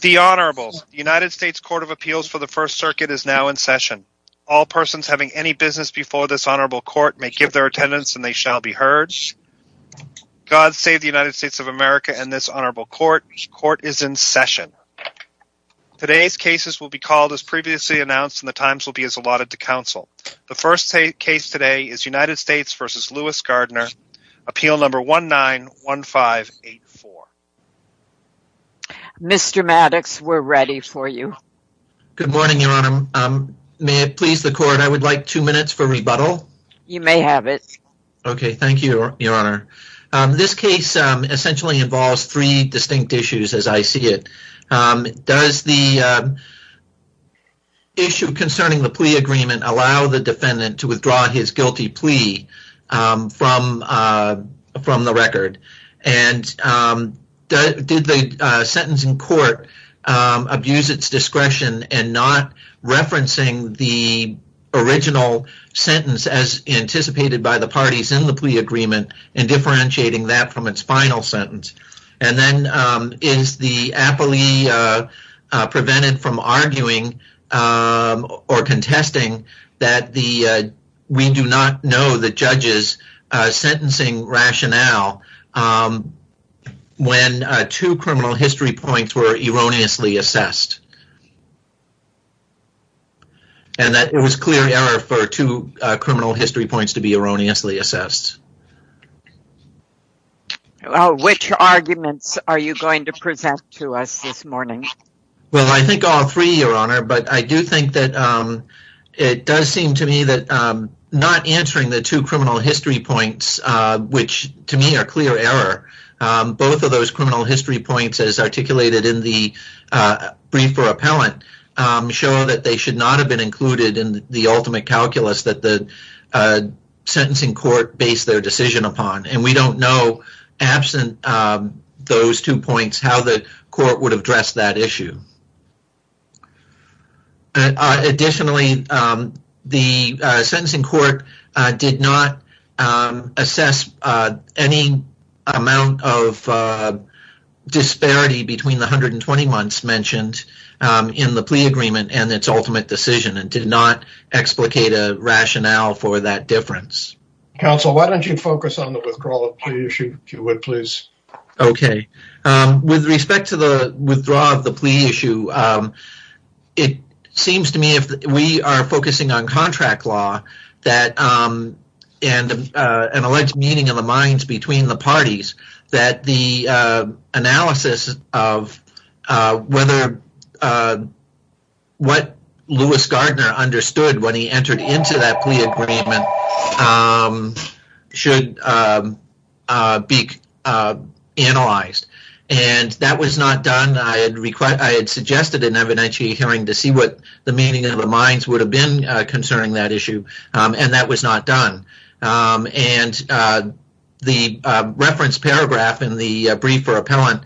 The Honourables, the United States Court of Appeals for the First Circuit is now in session. All persons having any business before this Honourable Court may give their attendance and they shall be heard. God save the United States of America and this Honourable Court. Court is in session. Today's cases will be called as previously announced and the times will be as allotted to Council. The first case today is United States v. Lewis Gardner, appeal number 191584. Mr. Maddox, we're ready for you. Good morning, Your Honour. May it please the Court, I would like two minutes for rebuttal. You may have it. Okay, thank you, Your Honour. This case essentially involves three distinct issues as I see it. Does the issue concerning the plea agreement allow the defendant to withdraw his guilty plea from the record? And did the sentence in court abuse its discretion in not referencing the original sentence as anticipated by the parties in the plea agreement and differentiating that from its final sentence? And then, is the appellee prevented from arguing or contesting that we do not know the judge's sentencing rationale when two criminal history points were erroneously assessed? And that it was clear error for two criminal history points to be erroneously assessed. Which arguments are you going to present to us this morning? Well, I think all three, Your Honour. But I do think that it does seem to me that not answering the two criminal history points, which to me are clear error, both of those criminal history points as articulated in the brief for appellant show that they should not have been included in the ultimate calculus that the sentencing court based their decision upon. And we don't know, absent those two points, how the court would address that issue. Additionally, the sentencing court did not assess any amount of disparity between the 120 months mentioned in the plea agreement and its ultimate decision and did not explicate a rationale for that difference. Counsel, why don't you focus on the withdrawal of the plea issue, if you would, please? Okay. With respect to the withdrawal of the plea issue, it seems to me if we are focusing on contract law and an alleged meeting of the minds between the parties, that the analysis of whether what Lewis Gardner understood when he entered into that plea agreement should be analyzed. And that was not done. I had requested, I had suggested an evidentiary hearing to see what the meaning of the minds would have been concerning that issue. And that was not done. And the reference paragraph in the brief for appellant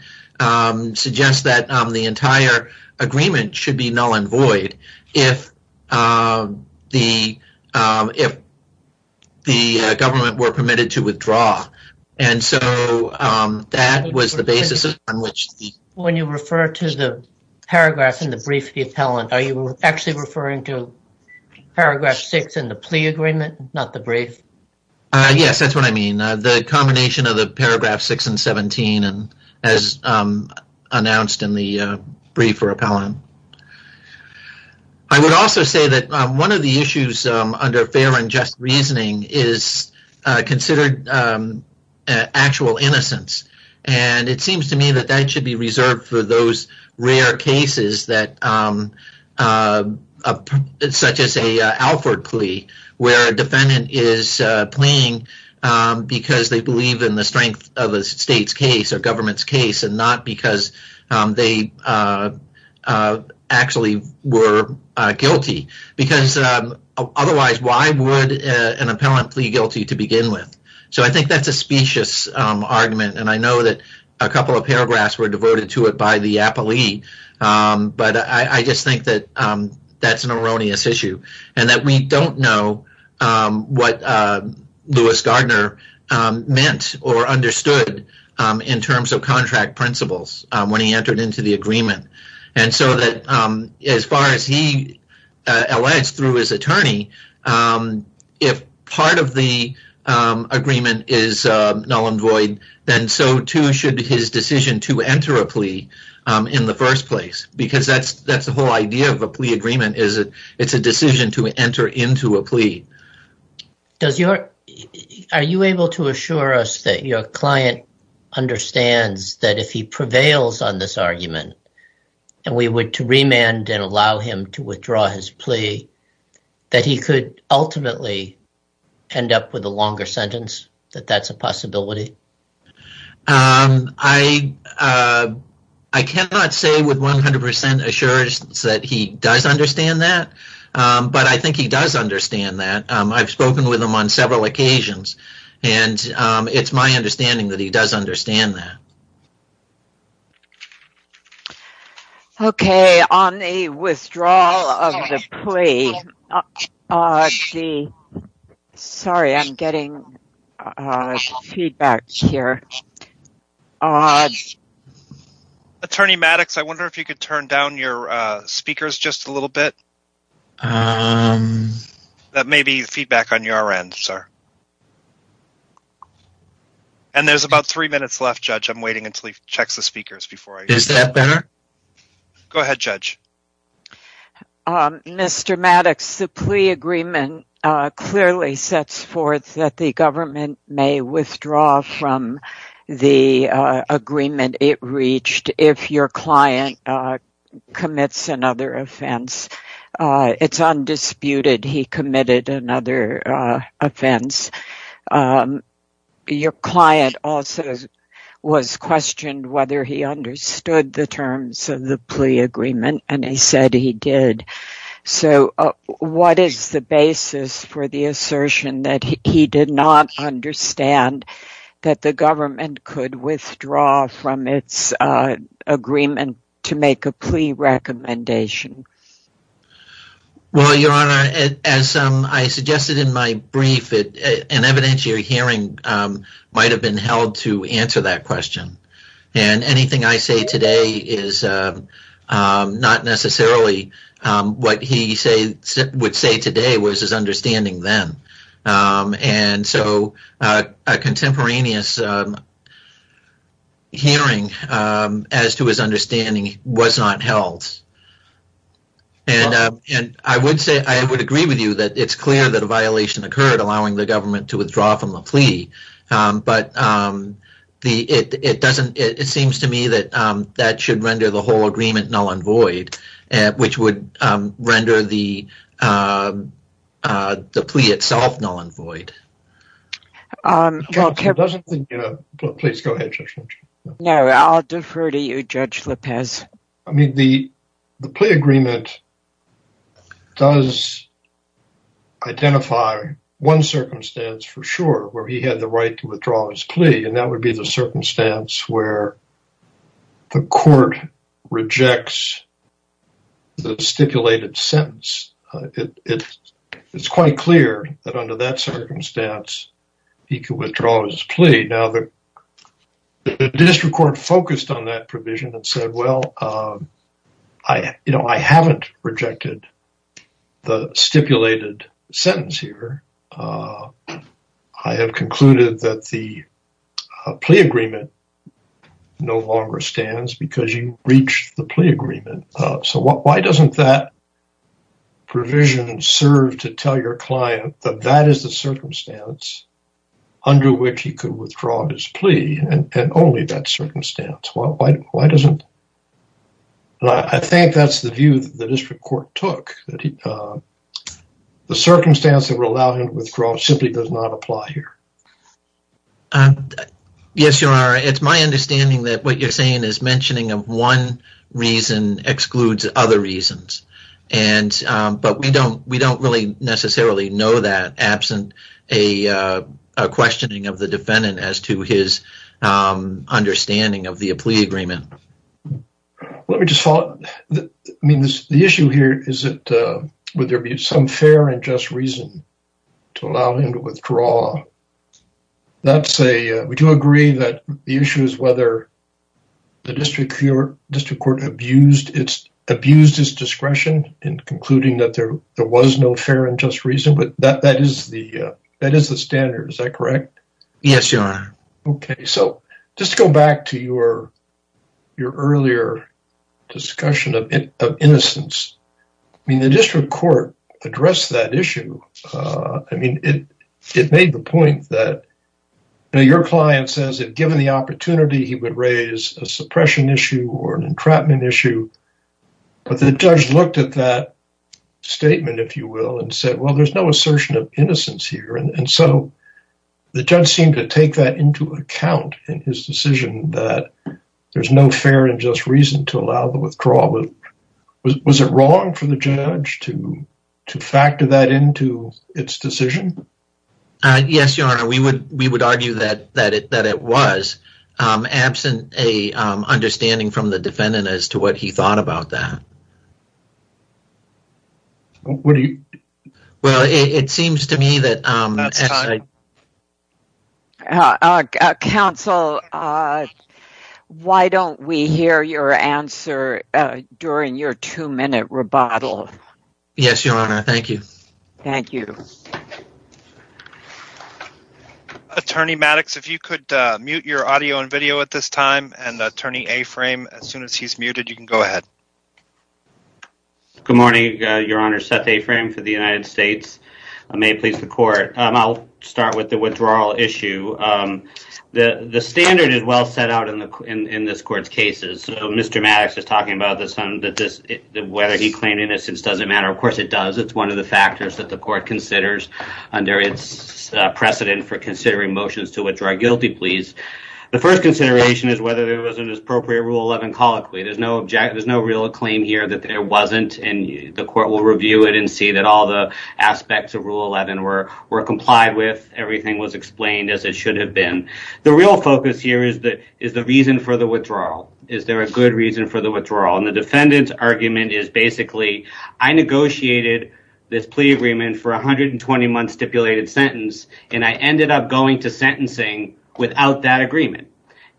suggests that the entire agreement should be null and void if the government were permitted to withdraw. And so that was the basis on which... When you refer to the paragraphs in the brief for the appellant, are you actually referring to paragraph 6 in the plea agreement, not the brief? Yes, that's what I mean. The combination of the paragraph 6 and 17 as announced in the brief for appellant. I would also say that one of the issues under fair and just reasoning is considered actual innocence. And it seems to me that that should be reserved for those rare cases that such as a Alford plea, where a defendant is playing because they believe in the strength of a state's case or government's case and not because they actually were guilty. Because otherwise, why would an appellant plead guilty to begin with? So I think that's a specious argument. And I know that a couple of paragraphs were diverted to it by the appellee. But I just think that that's an erroneous issue and that we don't know what Lewis Gardner meant or understood in terms of contract principles when he entered into the agreement. And so that as far as he alleged through his attorney, if part of the agreement is null and void, then so too should his decision to enter a plea in the first place. Because that's the whole idea of a plea agreement. It's a decision to enter into a plea. Are you able to assure us that your client understands that if he prevails on this argument and we were to remand and allow him to withdraw his plea, that he could ultimately end up with a longer sentence, that that's a possibility? I cannot say with 100% assurance that he does understand that, but I think he does understand that. I've spoken with him on several occasions and it's my understanding that he does understand that. Okay. On the withdrawal of the plea, sorry, I'm getting feedback here. Attorney Maddox, I wonder if you could turn down your speakers just a little bit. That may be feedback on your end, sir. And there's about three minutes left, Judge. I'm waiting until he checks the speakers before I... Is that better? Go ahead, Judge. Mr. Maddox, the plea agreement clearly sets forth that the government may withdraw from the agreement it reached if your client commits another offense. It's undisputed he committed another offense. Your client also was questioned whether he understood the terms of the plea agreement and he said he did. So what is the basis for the assertion that he did not understand that the government could withdraw from its agreement to make a plea recommendation? Well, Your Honor, as I suggested in my brief, an evidentiary hearing might have been held to answer that question. And anything I say today is not necessarily what he would say today was his understanding then. And so a contemporaneous hearing as to his understanding was not held. And I would say I would agree with you that it's clear that a violation occurred, allowing the government to withdraw from the plea. But it doesn't, it seems to me that that should render the whole agreement null and void, which would render the plea itself null and void. Please go ahead, Judge. No, I'll defer to you, Judge Lopez. I mean, the plea agreement does identify one circumstance for sure, where he had the right to withdraw his plea. And that would be the circumstance where the court rejects the stipulated sentence. It's quite clear that under that circumstance, he could withdraw his plea. Well, I haven't rejected the stipulated sentence here. I have concluded that the plea agreement no longer stands because you breached the plea agreement. So why doesn't that provision serve to tell your client that that is the circumstance under which he could withdraw his plea, and only that circumstance? Why doesn't, I think that's the view that the district court took. The circumstance that would allow him to withdraw simply does not apply here. Yes, Your Honor, it's my understanding that what you're saying is mentioning of one reason excludes other reasons. And, but we don't, we don't really necessarily know that absent a questioning of the defendant as to his understanding of the plea agreement. Let me just follow up. I mean, the issue here is that would there be some fair and just reason to allow him to withdraw? That's a, we do agree that the issue is whether the district court abused its discretion in concluding that there was no fair and just reason, but that is the standard. Is that correct? Yes, Your Honor. Okay. So just to go back to your earlier discussion of innocence, I mean, the district court addressed that issue. I mean, it made the point that your client says that given the opportunity, he would raise a suppression issue or an entrapment issue. But the judge looked at that statement, if you will, and said, well, there's no assertion of innocence here. And so the judge seemed to take that into account in his decision that there's no fair and just reason to allow the withdrawal. Was it wrong for the judge to factor that into its decision? Yes, Your Honor. We would argue that it was absent a understanding from the defendant as to what he thought about that. What do you? Well, it seems to me that... That's time. Counsel, why don't we hear your answer during your two-minute rebuttal? Yes, Your Honor. Thank you. Thank you. Attorney Maddox, if you could mute your audio and video at this time, and Attorney Aframe, as soon as he's muted, you can go ahead. Good morning, Your Honor. Seth Aframe for the United States. May it please the Court. I'll start with the withdrawal issue. The standard is well set out in this Court's cases. So Mr. Maddox is talking about whether he claimed innocence doesn't matter. Of course it does. It's one of the factors that the Court considers under its precedent for considering motions to withdraw guilty pleas. The first consideration is whether there was an appropriate Rule 11 colloquy. There's no real claim here that there wasn't, and the Court will review it and see that all the aspects of Rule 11 were complied with, everything was explained as it should have been. The real focus here is the reason for the withdrawal. Is there a good reason for the withdrawal? The defendant's argument is basically, I negotiated this plea agreement for a 120-month stipulated sentence, and I ended up going to sentencing without that agreement,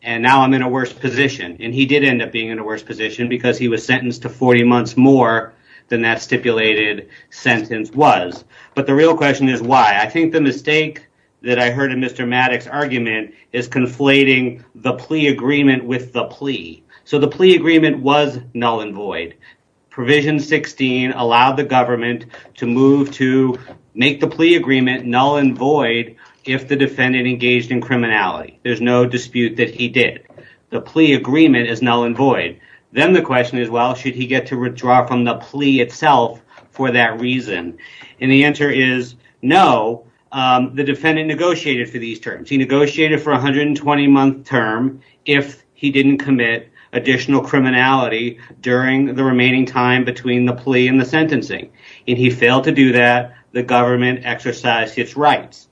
and now I'm in a worse position. And he did end up being in a worse position because he was sentenced to 40 months more than that stipulated sentence was. But the real question is why. I think the mistake that I heard in Mr. Maddox's argument is conflating the plea agreement with the plea. So the plea agreement was null and void. Provision 16 allowed the government to move to make the plea agreement null and void if the defendant engaged in criminality. There's no dispute that he did. The plea agreement is null and void. Then the question is, well, should he get to withdraw from the plea itself for that reason? And the answer is no. The defendant negotiated for these terms. He negotiated for a 120-month term if he didn't commit additional criminality during the remaining time between the plea and the sentencing. If he failed to do that, the government exercised its rights.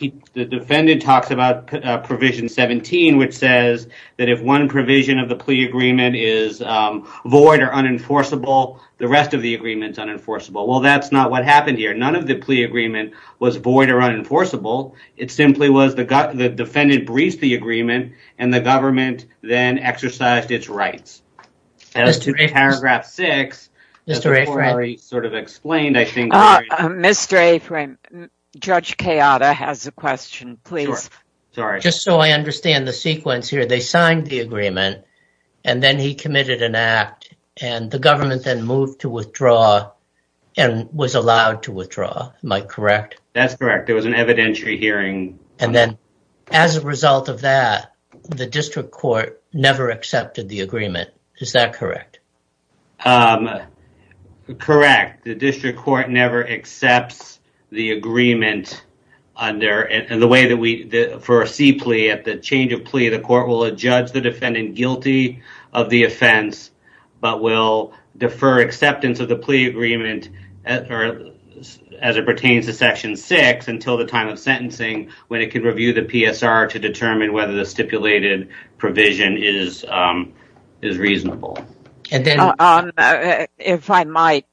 The defendant talks about provision 17, which says that if one provision of the plea agreement is void or unenforceable, the rest of the agreement is unenforceable. Well, that's not what happened here. None of the plea agreement was void or unenforceable. It simply was the defendant breached the agreement, and the government then exercised its rights. As to Judge Kayada has a question, please. Just so I understand the sequence here, they signed the agreement, and then he committed an act, and the government then moved to withdraw and was allowed to withdraw. Am I correct? That's correct. There was an evidentiary hearing. And then as a result of that, the district court never accepted the agreement. Is that correct? Correct. The district court never accepts the agreement. For a C plea, at the change of plea, the court will judge the defendant guilty of the offense but will defer acceptance of the plea agreement as it pertains to Section 6 until the time of sentencing when it can review the PSR to the district court. If I might,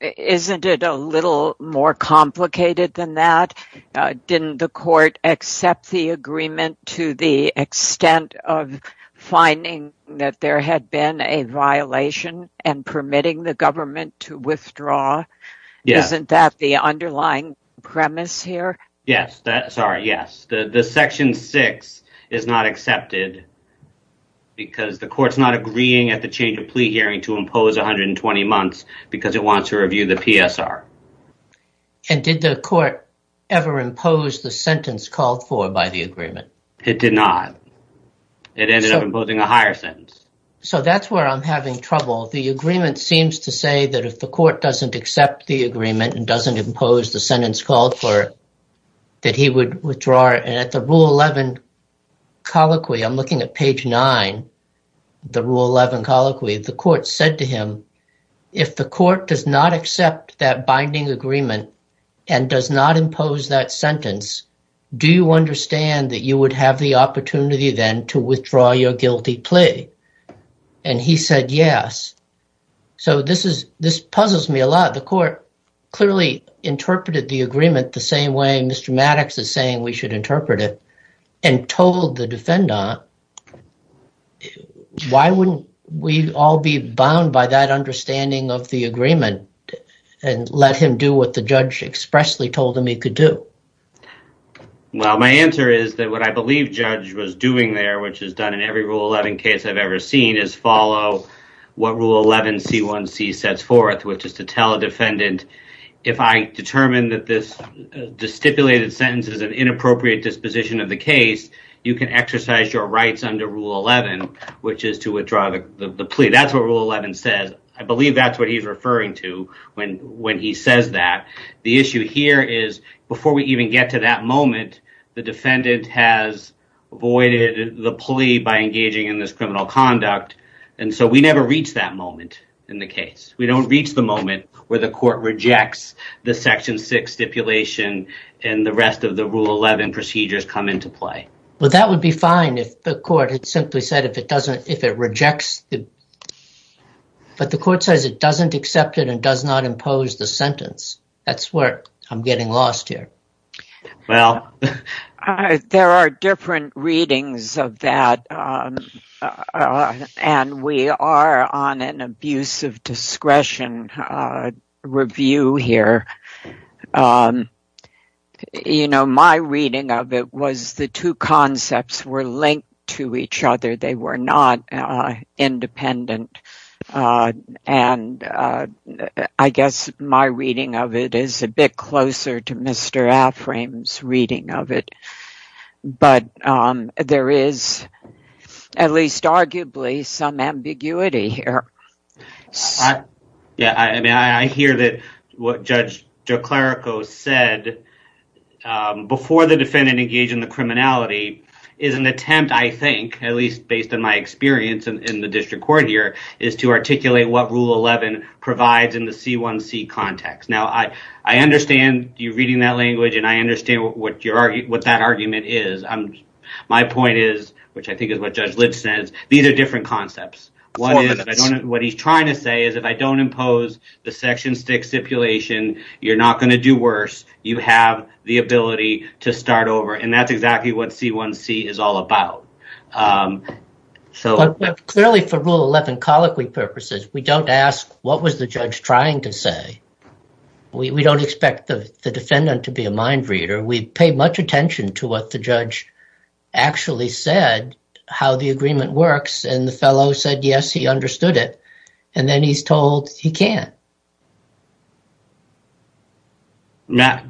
isn't it a little more complicated than that? Didn't the court accept the agreement to the extent of finding that there had been a violation and permitting the government to withdraw? Isn't that the underlying premise here? Yes. Sorry. Yes. The Section 6 is not accepted because the court's not agreeing at the change of plea hearing to impose 120 months because it wants to review the PSR. And did the court ever impose the sentence called for by the agreement? It did not. It ended up imposing a higher sentence. So that's where I'm having trouble. The agreement seems to say that if the court doesn't accept the agreement and doesn't impose the sentence called for, that he would withdraw. And at the Rule 11 colloquy, I'm looking at page 9, the Rule 11 colloquy, the court said to him, if the court does not accept that binding agreement and does not impose that sentence, do you understand that you would have the opportunity then to withdraw your guilty plea? And he said yes. So this puzzles me a lot. The court clearly interpreted the agreement the same way Mr. Maddox is saying we should interpret it and told the defendant. Why wouldn't we all be bound by that understanding of the agreement and let him do what the judge expressly told him he could do? Well, my answer is that what I believe Judge was doing there, which is done in every Rule 11 case I've ever seen, is follow what Rule 11 C1C sets forth, which is to tell a defendant, if I determine that this stipulated sentence is an inappropriate disposition of the case, you can exercise your rights under Rule 11, which is to withdraw the plea. That's what Rule 11 says. I believe that's what he's referring to when he says that. The issue here is, before we even get to that moment, the defendant has avoided the plea by engaging in this criminal conduct, and so we never reach that moment in the case. We don't reach the moment where the court rejects the Section 6 stipulation and the rest of the Rule 11 procedures come into play. Well, that would be fine if the court had simply said if it rejects, but the court says it doesn't accept it and does not impose the sentence. That's where I'm getting lost here. Well, there are different readings of that, and we are on an abuse of discretion review here. My reading of it was the two concepts were linked to each other. They were not independent, and I guess my reading of it is a bit closer to Mr. Afram's reading of it, but there is at least arguably some ambiguity here. Yeah, I mean, I hear that what Judge DeClerico said before the defendant engaged in the criminality is an attempt, I think, at least based on my experience in the district court here, is to articulate what Rule 11 provides in the C1C context. Now, I understand you reading that language, and I understand what that argument is. My point is, which I think is what Judge Lipps says, these are different concepts. What he's trying to say is if I don't impose the Section 6 stipulation, you're not going to do worse. You have the ability to start over, and that's we don't ask what was the judge trying to say. We don't expect the defendant to be a mind reader. We pay much attention to what the judge actually said, how the agreement works, and the fellow said, yes, he understood it, and then he's told he can't. Matt,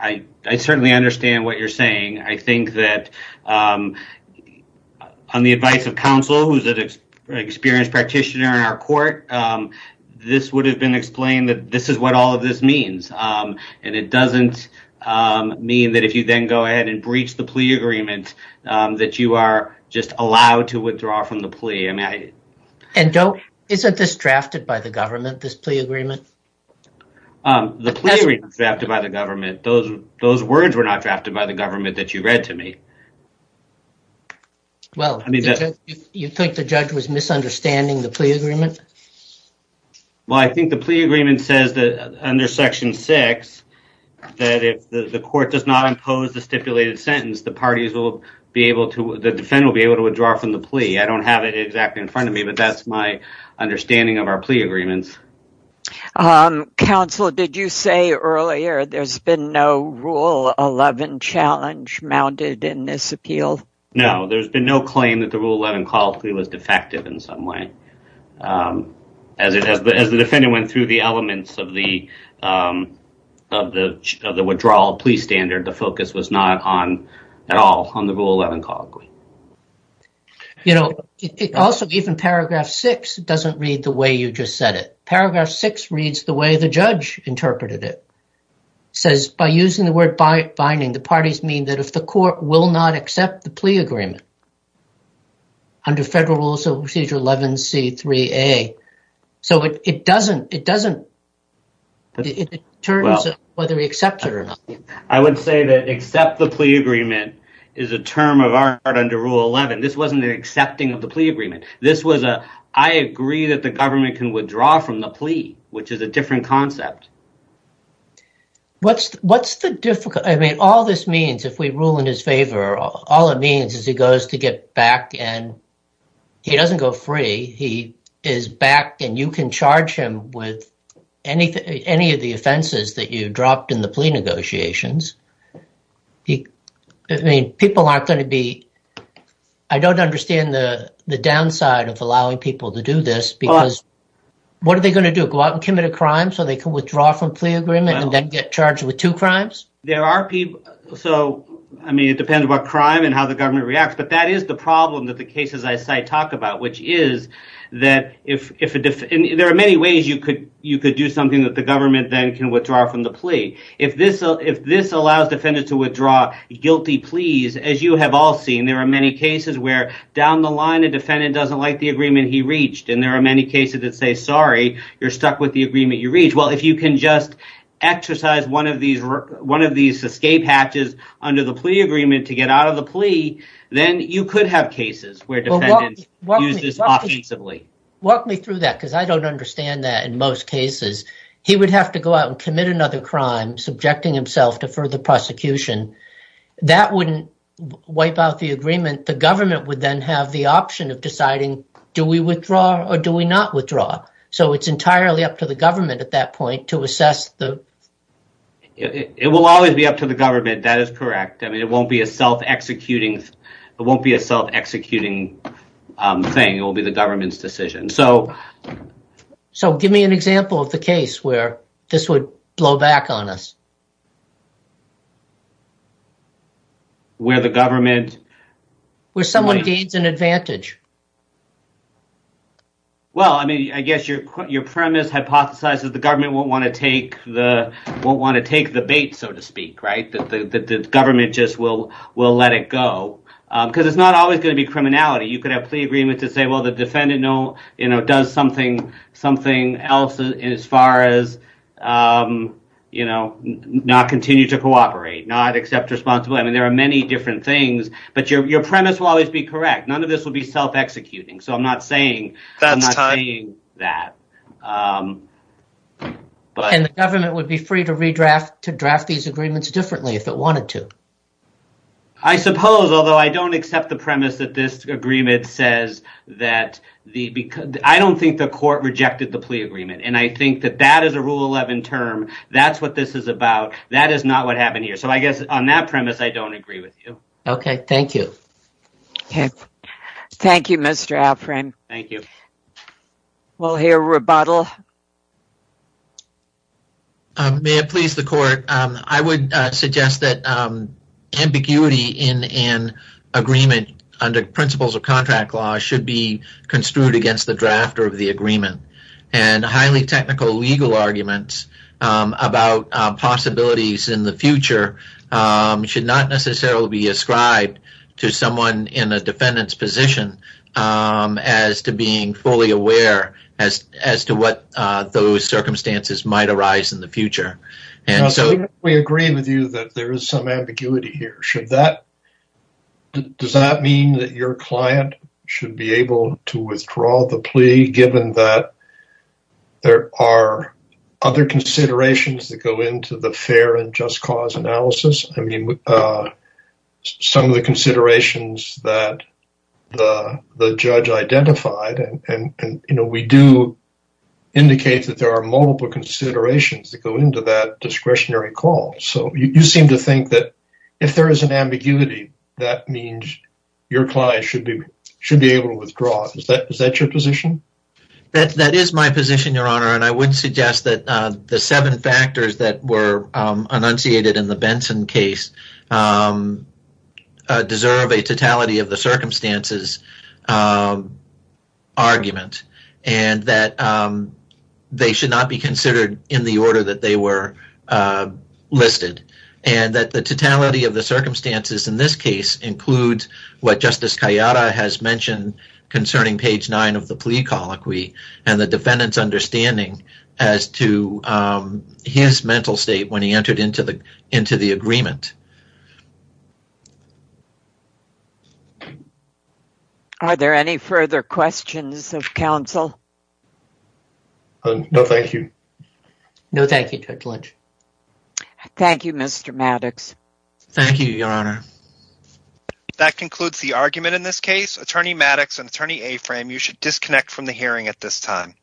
I certainly understand what you're saying. I think that on the advice of counsel, who's an experienced practitioner in our court, this would have been explained that this is what all of this means. It doesn't mean that if you then go ahead and breach the plea agreement that you are just allowed to withdraw from the plea. Isn't this drafted by the government, this plea agreement? The plea agreement is drafted by the government. Those words were not drafted by the government that you read to me. Well, you think the judge was misunderstanding the plea agreement? Well, I think the plea agreement says that under Section 6, that if the court does not impose the stipulated sentence, the parties will be able to, the defendant will be able to withdraw from the plea. I don't have it exactly in front of me, but that's my understanding of our plea agreements. Counsel, did you say earlier there's been no Rule 11 challenge mounted in this appeal? No, there's been no claim that the Rule 11 call plea was defective in some way. As the defendant went through the elements of the withdrawal plea standard, the focus was not on, at all, on the Rule 11 call plea. You know, it also, even Paragraph 6, doesn't read the way you just said it. Paragraph 6 reads the way the judge interpreted it. It says, by using the word binding, the parties mean that if the court will not accept the plea agreement under Federal Rules of Procedure 11C3A. So, it doesn't, it doesn't, it determines whether we accept it or not. I would say that accept the plea agreement is a term of art under Rule 11. This wasn't the accepting of the plea agreement. This was a, I agree that the government can withdraw from the plea, which is a different concept. What's, what's the difficult, I mean, all this means, if we rule in his favor, all it means is he goes to get back and he doesn't go free. He is back and you can charge him with anything, any of the offenses that you dropped in the plea negotiations. I mean, people aren't going to be, I don't understand the, the downside of allowing people to do this because what are they going to do? Go out and commit a crime so they can withdraw from plea agreement and then get charged with two crimes? There are people, so, I mean, it depends what crime and how the government reacts, but that is the problem that the cases I cite talk about, which is that if, if there are many ways you could, you could do something that the government then can withdraw from the plea. If this, if this allows defendants to withdraw guilty pleas, as you have all seen, there are many cases where down the line, a defendant doesn't like the agreement he reached. And there are many cases that say, sorry, you're stuck with the agreement you reached. Well, if you can just exercise one of these, one of these escape hatches under the plea agreement to get out of the plea, then you could have cases where defendants use this offensively. Walk me through that because I don't understand that in most cases, he would have to go out and commit another crime, subjecting himself to further prosecution. That wouldn't wipe out the agreement. The government would then have the option of deciding do we withdraw or do we not withdraw? So it's entirely up to the government at that point to assess the. It will always be up to the government. That is correct. I mean, it won't be a self executing thing. It will be the government's decision. So. So give me an example of the case where this would blow back on us. Where the government. Where someone gains an advantage. Well, I mean, I guess your premise hypothesizes the government won't want to take the won't want to take the bait, so to speak. Right. The government just will will let it go because it's not always going to be criminality. You could have a plea agreement to say, well, the defendant know, you know, does something, something else as far as, you know, not continue to cooperate, not accept responsibility. I mean, there are many different things, but your premise will always be correct. None of this will be self executing. So I'm not saying I'm not saying that. And the government would be free to redraft to draft these agreements differently if it wanted to. I suppose, although I don't accept the premise that this agreement says that the I don't think the court rejected the plea agreement, and I think that that is a rule 11 term. That's what this is about. That is not what happened here. So I guess on that premise, I don't agree with you. OK, thank you. Thank you, Mr. Alfred. Thank you. Well, here, rebuttal. May it please the court, I would suggest that ambiguity in an agreement under principles of contract law should be construed against the drafter of the agreement and highly technical legal arguments about possibilities in the future should not necessarily be ascribed to someone in a defendant's position as to being fully aware as as to what those circumstances might arise in the future. And so we agree with you that there is some ambiguity here. Should that does that mean that your client should be able to withdraw the plea, given that there are other considerations that go into the fair and just cause analysis? I mean, uh, some of the considerations that the the judge identified and, you know, we do indicate that there are multiple considerations that go into that discretionary call. So you seem to think that if there is an ambiguity, that means your client should be should be able to withdraw. Is that is that your position? That that is my position, Your Honor. And I would suggest that the seven factors that were enunciated in the Benson case deserve a totality of the circumstances argument and that they should not be considered in the order that they were listed and that the totality of the circumstances in this case includes what Justice Cayeta has mentioned concerning page nine of the plea colloquy and the defendant's understanding as to his mental state when he entered into the into the agreement. Are there any further questions of counsel? No, thank you. No, thank you, Judge Lynch. Thank you, Mr. Maddox. Thank you, Your Honor. If that concludes the argument in this case, Attorney Maddox and Attorney Aframe, you should disconnect from the hearing at this time.